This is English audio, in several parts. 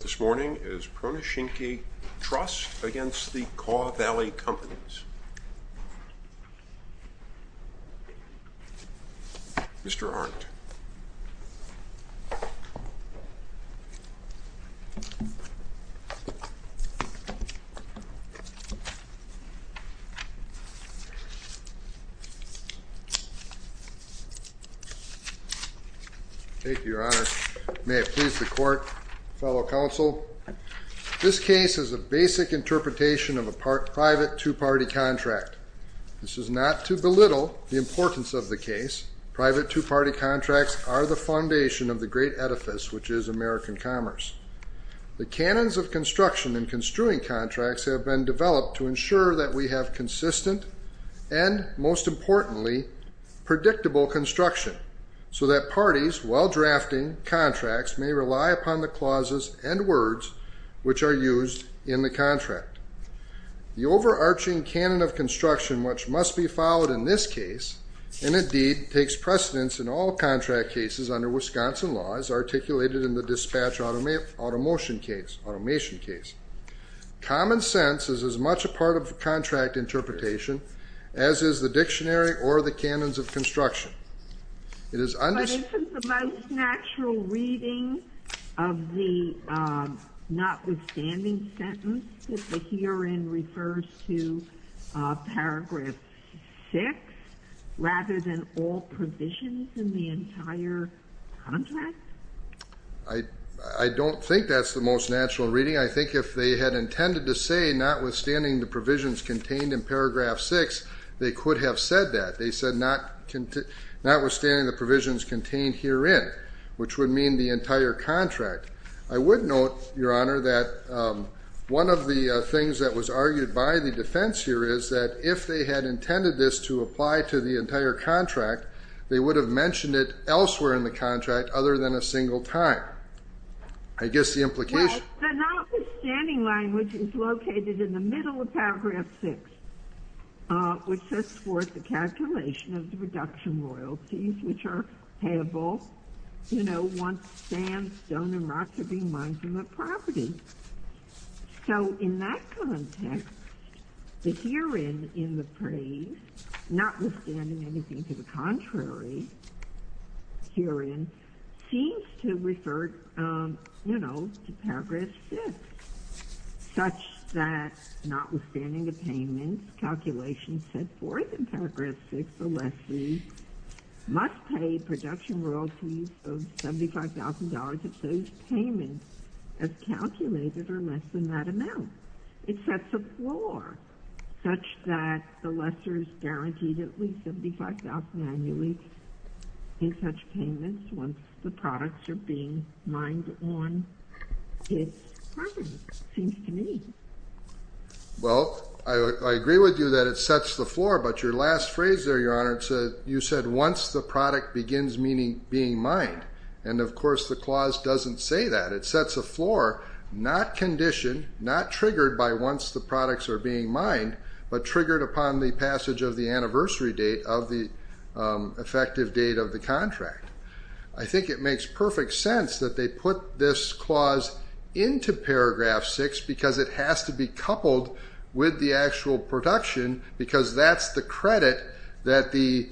This morning is Pronschinske Trust against the Kaw Valley Companies. Mr. Arndt. Thank you, Your Honor. May it please the court, fellow counsel, this case is a basic interpretation of a private two-party contract. This is not to belittle the importance of the case. Private two-party contracts are the foundation of the great edifice which is American commerce. The canons of construction in construing contracts have been developed to ensure that we have consistent and, most importantly, predictable construction so that parties, while drafting contracts, may rely upon the clauses and words which are used in the contract. The overarching canon of construction which must be followed in this case and, indeed, takes precedence in all contract cases under Wisconsin laws articulated in the dispatch automation case. Common sense is as much a part of contract interpretation as is the dictionary or the canons of construction. But isn't the most natural reading of the notwithstanding sentence that the herein refers to Paragraph 6 rather than all provisions in the entire contract? I don't think that's the most natural reading. I think if they had intended to say notwithstanding the provisions contained in Paragraph 6, they could have said that. They said notwithstanding the provisions contained herein, which would mean the entire contract. I would note, Your Honor, that one of the things that was argued by the defense here is that if they had intended this to apply to the entire contract, they would have mentioned it elsewhere in the contract other than a single time. I guess the implication... Well, the notwithstanding line, which is located in the middle of Paragraph 6, which describes Paragraph 6 as such. It's a line that sets forth the calculation of the reduction royalties which are payable once sand, stone, and rock have been mined from the property. So in that context, the herein in the phrase, notwithstanding anything to the contrary, herein, seems to refer, you know, to Paragraph 6, such that notwithstanding the payments, calculations set forth in Paragraph 6, the lessee must pay production royalties of $75,000 if those payments, as calculated, are less than that amount. It sets the floor such that the lessor is guaranteed at least $75,000 annually in such payments once the products are being mined on his property, it seems to me. Well, I agree with you that it sets the floor, but your last phrase there, Your Honor, you said once the product begins being mined, and of course the clause doesn't say that. It sets the floor not conditioned, not triggered by once the products are being mined, but triggered upon the passage of the anniversary date of the effective date of the contract. I think it makes perfect sense that they put this clause into Paragraph 6 because it has to be coupled with the actual production because that's the credit that the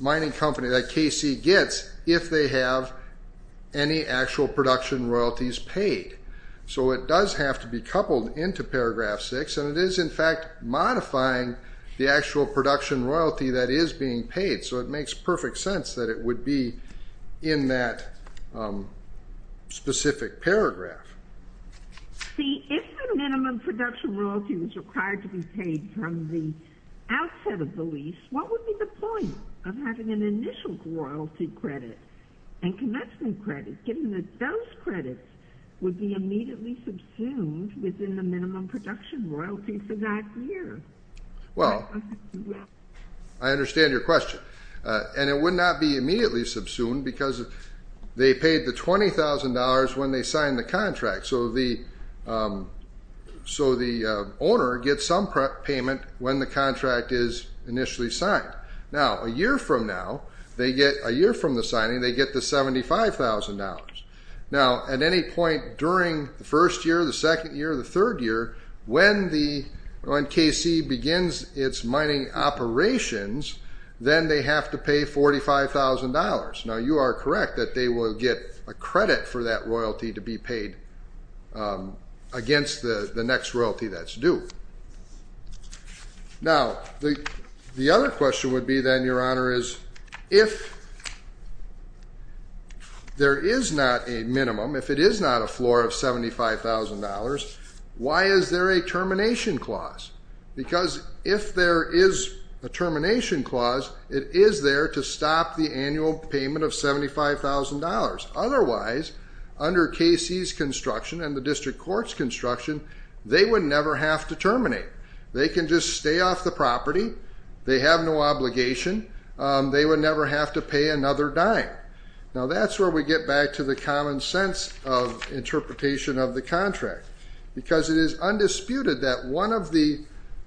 mining company, that KC, gets if they have any actual production royalties paid. So it does have to be coupled into Paragraph 6, and it is, in fact, modifying the actual production royalty that is being paid. So it makes perfect sense that it would be in that specific paragraph. See, if the minimum production royalty was required to be paid from the outset of the lease, what would be the point of having an initial royalty credit and commencement credit, given that those credits would be immediately subsumed within the minimum production royalty for that year? Well, I understand your question, and it would not be immediately subsumed because they paid the $20,000 when they signed the contract, so the owner gets some payment when the contract is initially signed. Now, a year from now, a year from the signing, they get the $75,000. Now, at any point during the first year, the second year, the third year, when KC begins its mining operations, then they have to pay $45,000. Now, you are correct that they will get a credit for that royalty to be paid against the next royalty that's due. Now, the other question would be then, Your Honor, is if there is not a minimum, if it is not a floor of $75,000, why is there a termination clause? Because if there is a termination clause, it is there to stop the annual payment of $75,000. Otherwise, under KC's construction and the district court's construction, they would never have to terminate. They can just stay off the property. They have no obligation. They would never have to pay another dime. Now, that's where we get back to the common sense of interpretation of the contract because it is undisputed that one of the,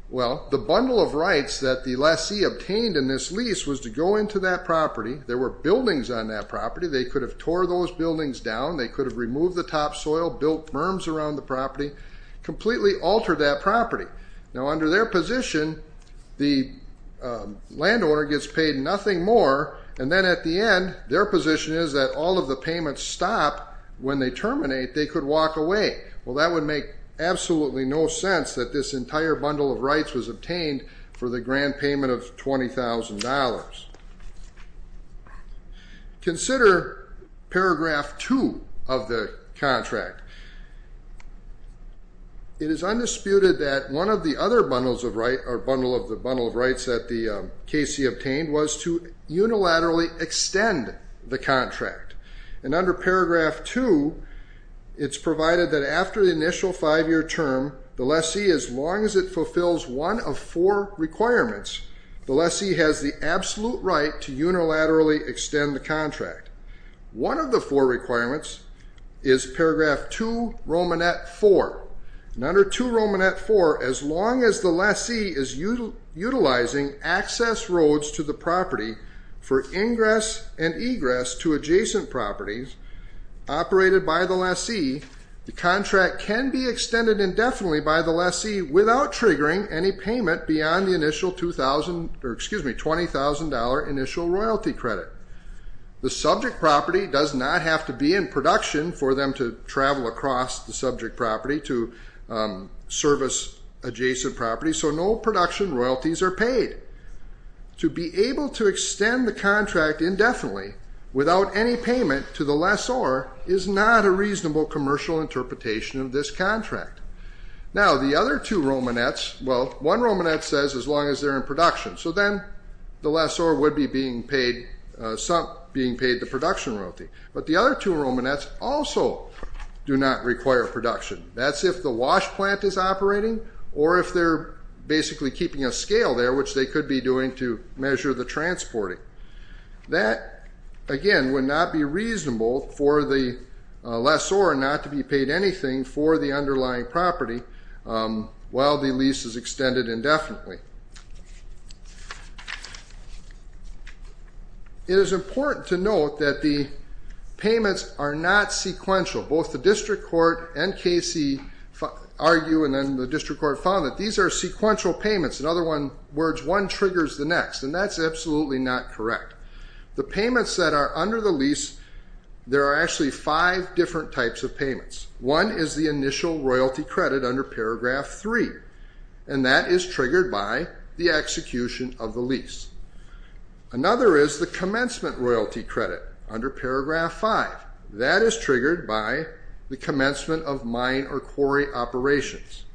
well, the bundle of rights that the lessee obtained in this lease was to go into that property. There were buildings on that property. They could have tore those buildings down. They could have removed the topsoil, built berms around the property, completely altered that property. Now, under their position, the landowner gets paid nothing more, and then at the end, their position is that all of the payments stop. When they terminate, they could walk away. Well, that would make absolutely no sense that this entire bundle of rights was obtained for the grand payment of $20,000. Consider paragraph 2 of the contract. It is undisputed that one of the other bundles of rights, or bundle of the bundle of rights that the KC obtained, was to unilaterally extend the contract. And under paragraph 2, it's provided that after the initial five-year term, the lessee, as long as it fulfills one of four requirements, the lessee has the absolute right to unilaterally extend the contract. One of the four requirements is paragraph 2, Romanet 4. And under 2 Romanet 4, as long as the lessee is utilizing access roads to the property for ingress and egress to adjacent properties operated by the lessee, the contract can be extended indefinitely by the lessee without triggering any payment beyond the initial $20,000 initial royalty credit. The subject property does not have to be in production for them to travel across the subject property to service adjacent property, so no production royalties are paid. To be able to extend the contract indefinitely without any payment to the lessor is not a reasonable commercial interpretation of this contract. Now, the other two Romanets, well, one Romanet says as long as they're in production, so then the lessor would be being paid the production royalty. But the other two Romanets also do not require production. That's if the wash plant is operating or if they're basically keeping a scale there, which they could be doing to measure the transporting. That, again, would not be reasonable for the lessor not to be paid anything for the underlying property while the lease is extended indefinitely. It is important to note that the payments are not sequential. Both the district court and KC argue and then the district court found that these are one triggers the next, and that's absolutely not correct. The payments that are under the lease, there are actually five different types of payments. One is the initial royalty credit under Paragraph 3, and that is triggered by the execution of the lease. Another is the commencement royalty credit under Paragraph 5. That is triggered by the commencement of mine or quarry operations.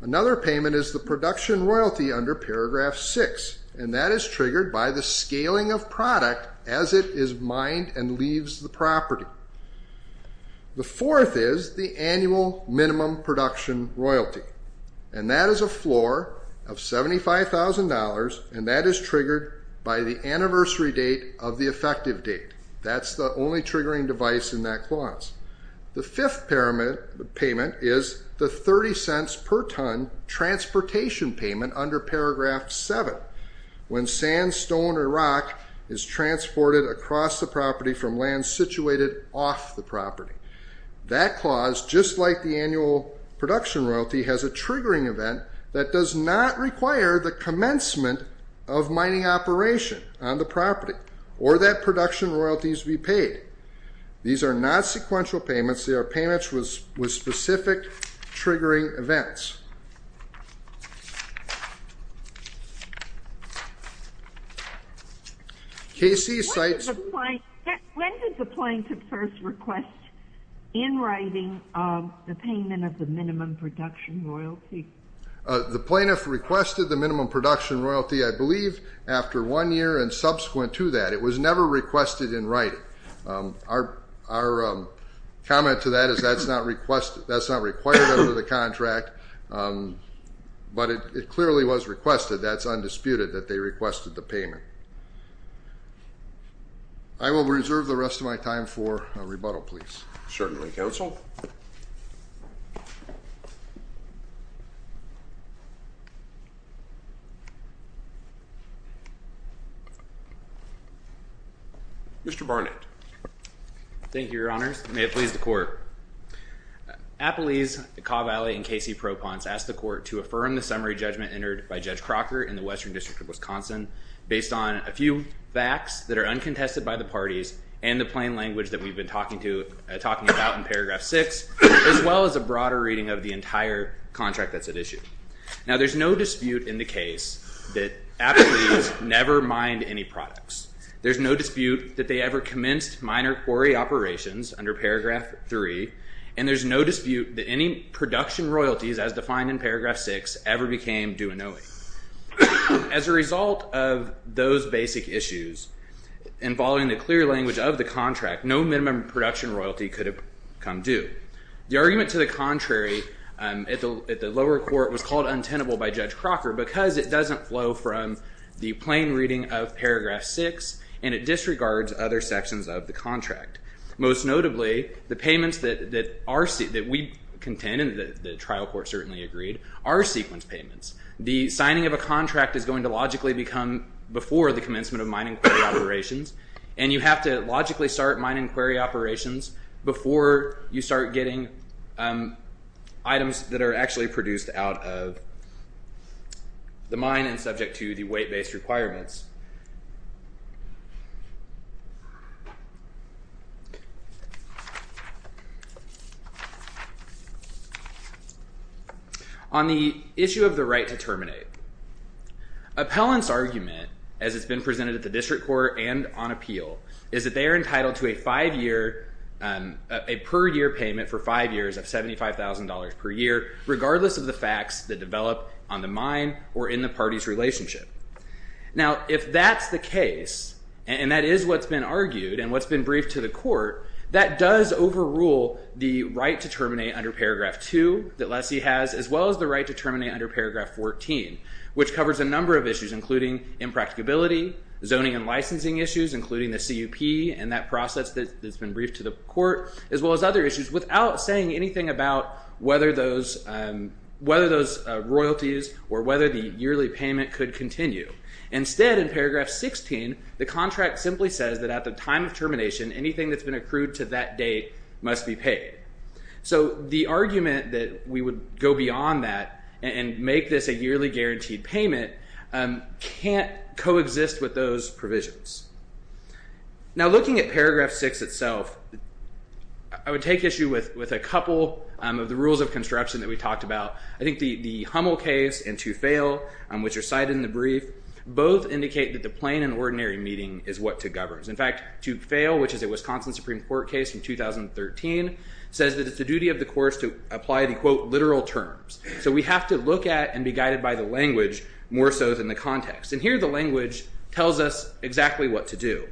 Another payment is the production royalty under Paragraph 6, and that is triggered by the scaling of product as it is mined and leaves the property. The fourth is the annual minimum production royalty, and that is a floor of $75,000, and that is triggered by the anniversary date of the effective date. That's the only triggering device in that clause. The fifth payment is the $0.30 per ton transportation payment under Paragraph 7, when sandstone or rock is transported across the property from land situated off the property. That clause, just like the annual production royalty, has a triggering event that does not require the commencement of mining operation on the property or that production royalties be paid. These are not sequential payments. They are payments with specific triggering events. Casey cites- When did the plaintiff first request in writing the payment of the minimum production royalty? The plaintiff requested the minimum production royalty, I believe, after one year and subsequent to that. It was never requested in writing. Our comment to that is that's not required under the contract, but it clearly was requested. That's undisputed that they requested the payment. I will reserve the rest of my time for a rebuttal, please. Certainly, Counsel. Mr. Barnett. Thank you, Your Honors. May it please the Court. Appelese, Cavalli, and Casey Proponts asked the Court to affirm the summary judgment entered by Judge Crocker in the Western District of Wisconsin based on a few facts that are uncontested by the parties and the plain language that we've been talking about in Paragraph 6, as well as a broader reading of the entire contract that's at issue. Now, there's no dispute in the case that Appelese never mined any products. There's no dispute that they ever commenced minor quarry operations under Paragraph 3, and there's no dispute that any production royalties, as defined in Paragraph 6, ever became due in OE. As a result of those basic issues, and following the clear language of the contract, no minimum production royalty could have come due. The argument to the contrary at the lower court was called untenable by Judge Crocker because it doesn't flow from the plain reading of Paragraph 6, and it disregards other sections of the contract. Most notably, the payments that we contend, and the trial court certainly agreed, are sequence payments. The signing of a contract is going to logically become before the commencement of mining quarry operations, and you have to logically start mining quarry operations before you start getting items that are actually produced out of the mine and subject to the weight-based requirements. On the issue of the right to terminate, appellant's argument, as it's been presented at the district court and on appeal, is that they are entitled to a per-year payment for five years of $75,000 per year, regardless of the facts that develop on the mine or in the party's relationship. Now, if that's the case, and that is what's been argued, and what's been briefed to the court, that does overrule the right to terminate under Paragraph 2 that Lessee has, as well as the right to terminate under Paragraph 14, which covers a number of issues, including impracticability, zoning and licensing issues, including the CUP and that process that's been briefed to the court, as well as other issues, without saying anything about whether those royalties or whether the yearly payment could continue. Instead, in Paragraph 16, the contract simply says that at the time of termination, anything that's been accrued to that date must be paid. So the argument that we would go beyond that and make this a yearly guaranteed payment can't coexist with those provisions. Now, looking at Paragraph 6 itself, I would take issue with a couple of the rules of construction that we talked about. I think the Hummel case and To Fail, which are cited in the brief, both indicate that the plain and ordinary meeting is what to govern. In fact, To Fail, which is a Wisconsin Supreme Court case from 2013, says that it's the duty of the courts to apply the, quote, literal terms. So we have to look at and be guided by the language more so than the context. And here the language tells us exactly what to do.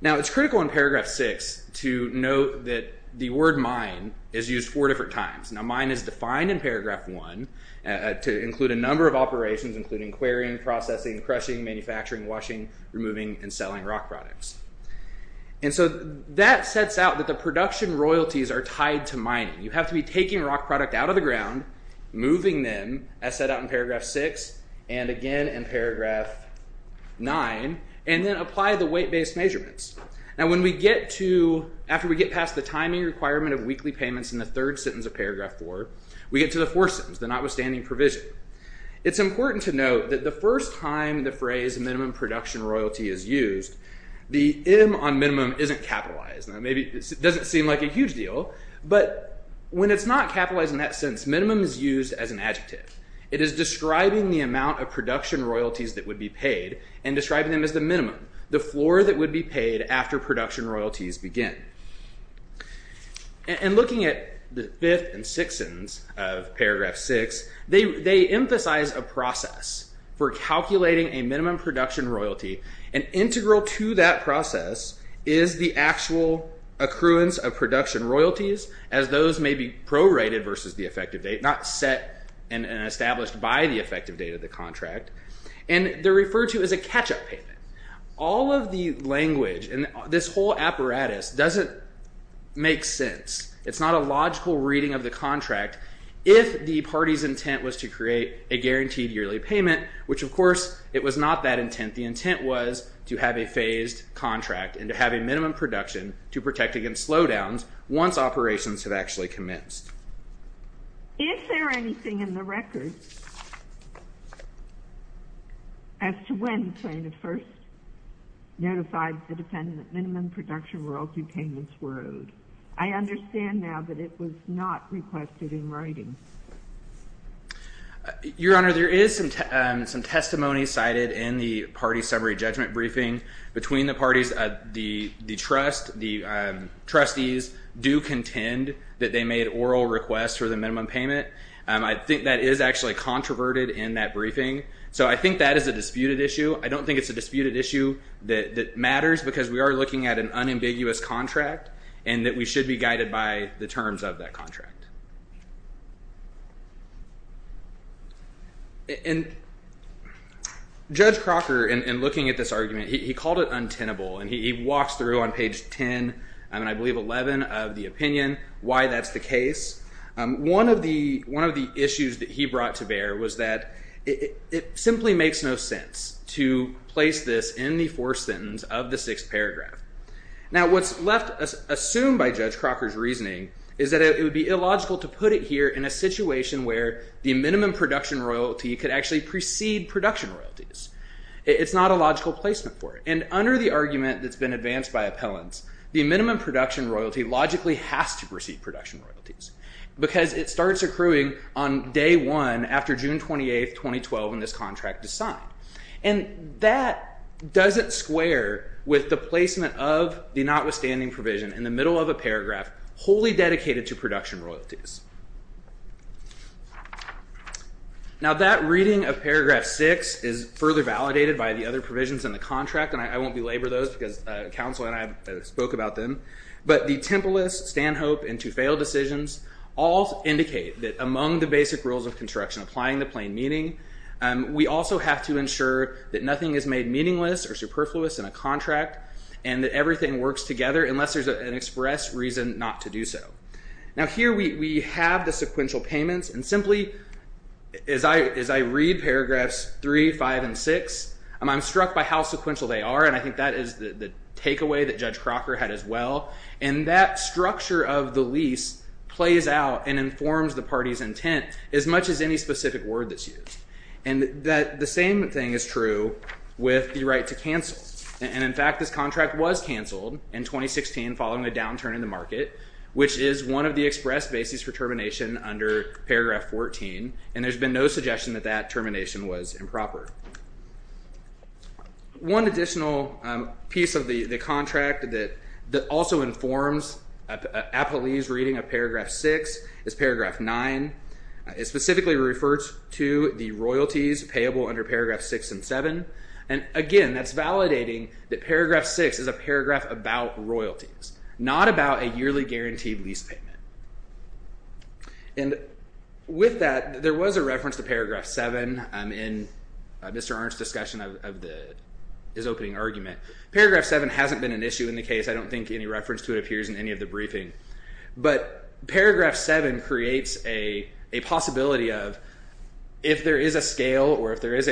Now, it's critical in Paragraph 6 to note that the word mine is used four different times. Now, mine is defined in Paragraph 1 to include a number of operations, including querying, processing, crushing, manufacturing, washing, removing, and selling rock products. And so that sets out that the production royalties are tied to mining. You have to be taking rock product out of the ground, moving them, as set out in Paragraph 6, and again in Paragraph 9, and then apply the weight-based measurements. Now, when we get to, after we get past the timing requirement of weekly payments in the third sentence of Paragraph 4, we get to the fourth sentence, the notwithstanding provision. It's important to note that the first time the phrase minimum production royalty is used, the M on minimum isn't capitalized. Now, maybe it doesn't seem like a huge deal, but when it's not capitalized in that sense, minimum is used as an adjective. It is describing the amount of production royalties that would be paid and describing them as the minimum, the floor that would be paid after production royalties begin. And looking at the fifth and sixth sentence of Paragraph 6, they emphasize a process for calculating a minimum production royalty. An integral to that process is the actual accruance of production royalties, as those may be prorated versus the effective date, not set and established by the effective date of the contract. And they're referred to as a catch-up payment. All of the language in this whole apparatus doesn't make sense. It's not a logical reading of the contract if the party's intent was to create a guaranteed yearly payment, which, of course, it was not that intent. The intent was to have a phased contract and to have a minimum production to protect against slowdowns once operations have actually commenced. Is there anything in the record as to when plaintiff first notified the defendant that minimum production royalty payments were owed? I understand now that it was not requested in writing. Your Honor, there is some testimony cited in the party summary judgment briefing. Between the parties, the trustees do contend that they made oral requests for the minimum payment. I think that is actually controverted in that briefing. So I think that is a disputed issue. I don't think it's a disputed issue that matters because we are looking at an unambiguous contract and that we should be guided by the terms of that contract. And Judge Crocker, in looking at this argument, he called it untenable. And he walks through on page 10, and I believe 11, of the opinion why that's the case. One of the issues that he brought to bear was that it simply makes no sense to place this in the fourth sentence of the sixth paragraph. Now, what's left assumed by Judge Crocker's reasoning is that it would be illogical to put it here in a situation where the minimum production royalty could actually precede production royalties. It's not a logical placement for it. And under the argument that's been advanced by appellants, the minimum production royalty logically has to precede production royalties because it starts accruing on day one after June 28, 2012, when this contract is signed. And that doesn't square with the placement of the notwithstanding provision in the middle of a paragraph wholly dedicated to production royalties. Now, that reading of paragraph 6 is further validated by the other provisions in the contract, and I won't belabor those because counsel and I spoke about them. But the Temple List, Stanhope, and Tufale decisions all indicate that among the basic rules of construction, we also have to ensure that nothing is made meaningless or superfluous in a contract and that everything works together unless there's an express reason not to do so. Now, here we have the sequential payments, and simply as I read paragraphs 3, 5, and 6, I'm struck by how sequential they are, and I think that is the takeaway that Judge Crocker had as well. And that structure of the lease plays out and informs the party's intent as much as any specific word that's used. And the same thing is true with the right to cancel. And in fact, this contract was canceled in 2016 following a downturn in the market, which is one of the express bases for termination under paragraph 14, and there's been no suggestion that that termination was improper. One additional piece of the contract that also informs Apolli's reading of paragraph 6 is paragraph 9. It specifically refers to the royalties payable under paragraph 6 and 7, and again, that's validating that paragraph 6 is a paragraph about royalties, not about a yearly guaranteed lease payment. And with that, there was a reference to paragraph 7 in Mr. Arnn's discussion of his opening argument. Paragraph 7 hasn't been an issue in the case. I don't think any reference to it appears in any of the briefing. But paragraph 7 creates a possibility of if there is a scale or if there is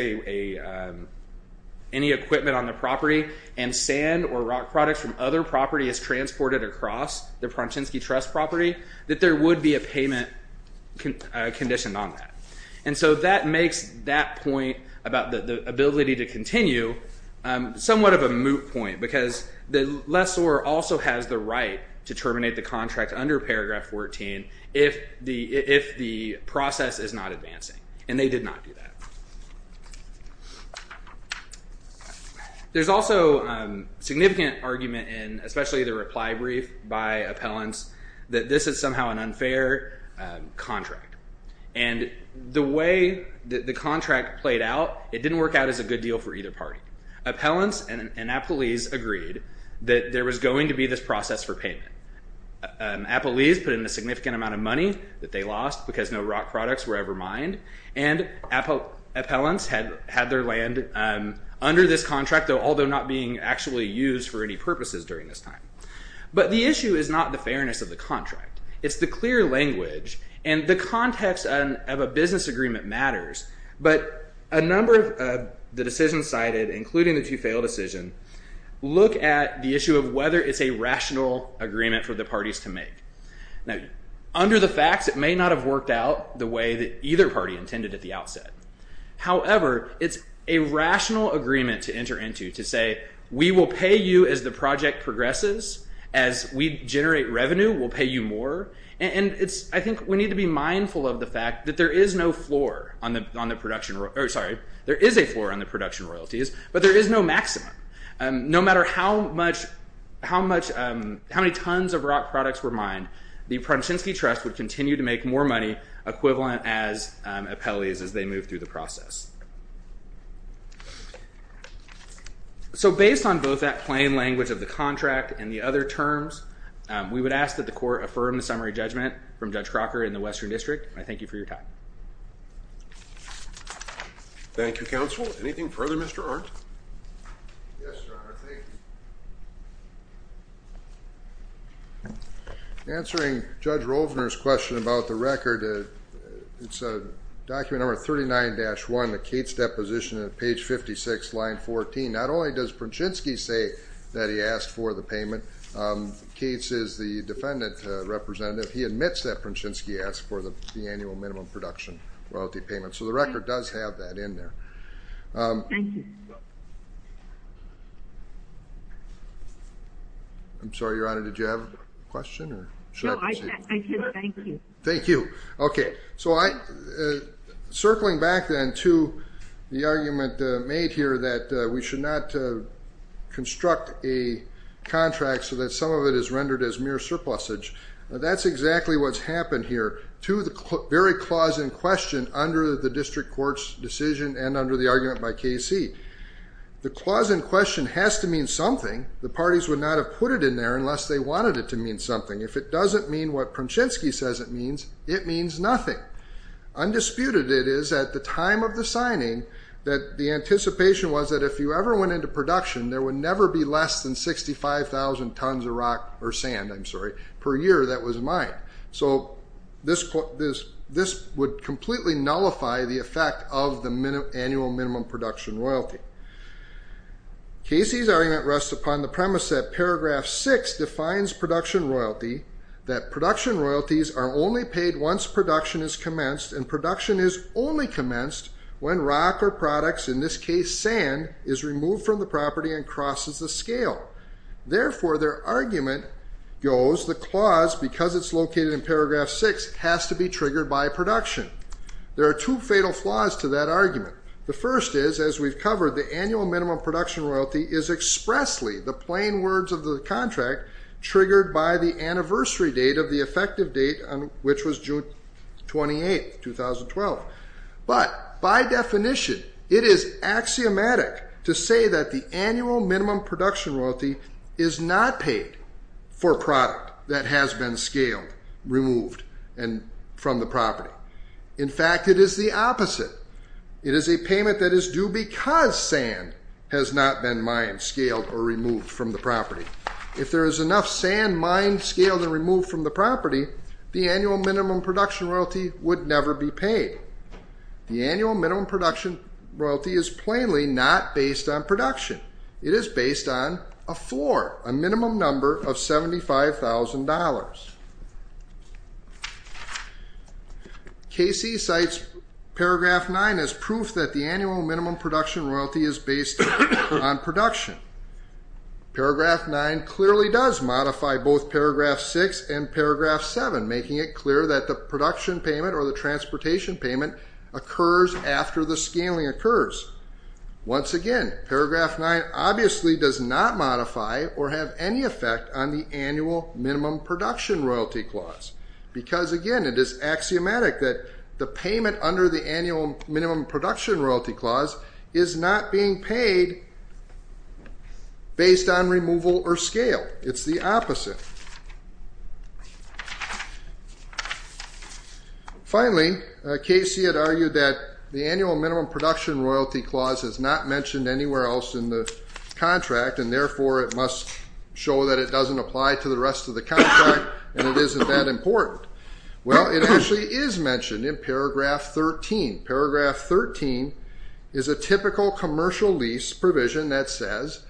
any equipment on the property and sand or rock products from other property is transported across the Pronsinski Trust property, that there would be a payment condition on that. And so that makes that point about the ability to continue somewhat of a moot point, because the lessor also has the right to terminate the contract under paragraph 14 if the process is not advancing, and they did not do that. There's also significant argument in especially the reply brief by appellants that this is somehow an unfair contract. And the way that the contract played out, it didn't work out as a good deal for either party. Appellants and appellees agreed that there was going to be this process for payment. Appellees put in a significant amount of money that they lost because no rock products were ever mined, and appellants had their land under this contract, although not being actually used for any purposes during this time. But the issue is not the fairness of the contract. It's the clear language, and the context of a business agreement matters. But a number of the decisions cited, including the two-fail decision, look at the issue of whether it's a rational agreement for the parties to make. Now, under the facts, it may not have worked out the way that either party intended at the outset. However, it's a rational agreement to enter into to say, we will pay you as the project progresses, as we generate revenue, we'll pay you more. And I think we need to be mindful of the fact that there is no floor on the production, or sorry, there is a floor on the production royalties, but there is no maximum. No matter how much, how much, how many tons of rock products were mined, the Prochinsky Trust would continue to make more money equivalent as appellees as they move through the process. So based on both that plain language of the contract and the other terms, we would ask that the court affirm the summary judgment from Judge Crocker in the Western District. I thank you for your time. Thank you, Counsel. Anything further, Mr. Arndt? Yes, Your Honor, thank you. Answering Judge Rovner's question about the record, it's document number 39-1, the Cates deposition at page 56, line 14. Not only does Prochinsky say that he asked for the payment, Cates is the defendant representative. He admits that Prochinsky asked for the annual minimum production royalty payment. So the record does have that in there. Thank you. I'm sorry, Your Honor, did you have a question? No, I did. Thank you. Thank you. Okay. So circling back then to the argument made here that we should not construct a contract so that some of it is rendered as mere surplusage, that's exactly what's happened here to the very clause in question under the district court's decision and under the argument by Casey. The clause in question has to mean something. The parties would not have put it in there unless they wanted it to mean something. If it doesn't mean what Prochinsky says it means, it means nothing. Undisputed it is at the time of the signing that the anticipation was that if you ever went into production, there would never be less than 65,000 tons of rock or sand, I'm sorry, per year that was mined. So this would completely nullify the effect of the annual minimum production royalty. Casey's argument rests upon the premise that paragraph six defines production royalty, that production royalties are only paid once production is commenced, and production is only commenced when rock or products, in this case sand, is removed from the property and crosses the scale. Therefore, their argument goes the clause, because it's located in paragraph six, has to be triggered by production. There are two fatal flaws to that argument. The first is, as we've covered, the annual minimum production royalty is expressly, the plain words of the contract, triggered by the anniversary date of the effective date, which was June 28, 2012. But by definition, it is axiomatic to say that the annual minimum production royalty is not paid for product that has been scaled, removed, and from the property. In fact, it is the opposite. It is a payment that is due because sand has not been mined, scaled, or removed from the property. If there is enough sand mined, scaled, and removed from the property, the annual minimum production royalty would never be paid. The annual minimum production royalty is plainly not based on production. It is based on a floor, a minimum number of $75,000. KC cites paragraph nine as proof that the annual minimum production royalty is based on production. Paragraph nine clearly does modify both paragraph six and paragraph seven, making it clear that the production payment or the transportation payment occurs after the scaling occurs. Once again, paragraph nine obviously does not modify or have any effect on the annual minimum production royalty clause. Because again, it is axiomatic that the payment under the annual minimum production royalty clause is not being paid based on removal or scale. It's the opposite. Finally, KC had argued that the annual minimum production royalty clause is not mentioned anywhere else in the contract, and therefore it must show that it doesn't apply to the rest of the contract and it isn't that important. Well, it actually is mentioned in paragraph 13. Paragraph 13 is a typical commercial lease provision that says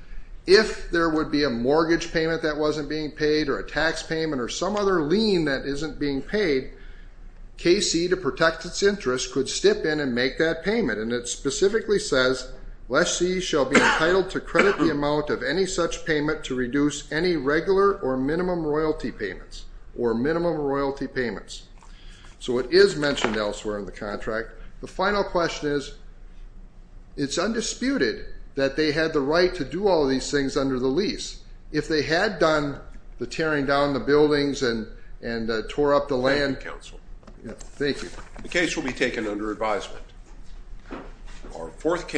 if there would be a mortgage payment that wasn't being paid or a tax payment or some other lien that isn't being paid, KC, to protect its interest, could step in and make that payment. And it specifically says, lessee shall be entitled to credit the amount of any such payment to reduce any regular or minimum royalty payments. Or minimum royalty payments. So it is mentioned elsewhere in the contract. The final question is, it's undisputed that they had the right to do all these things under the lease. If they had done the tearing down the buildings and tore up the land... Thank you, counsel. Thank you. The case will be taken under advisement.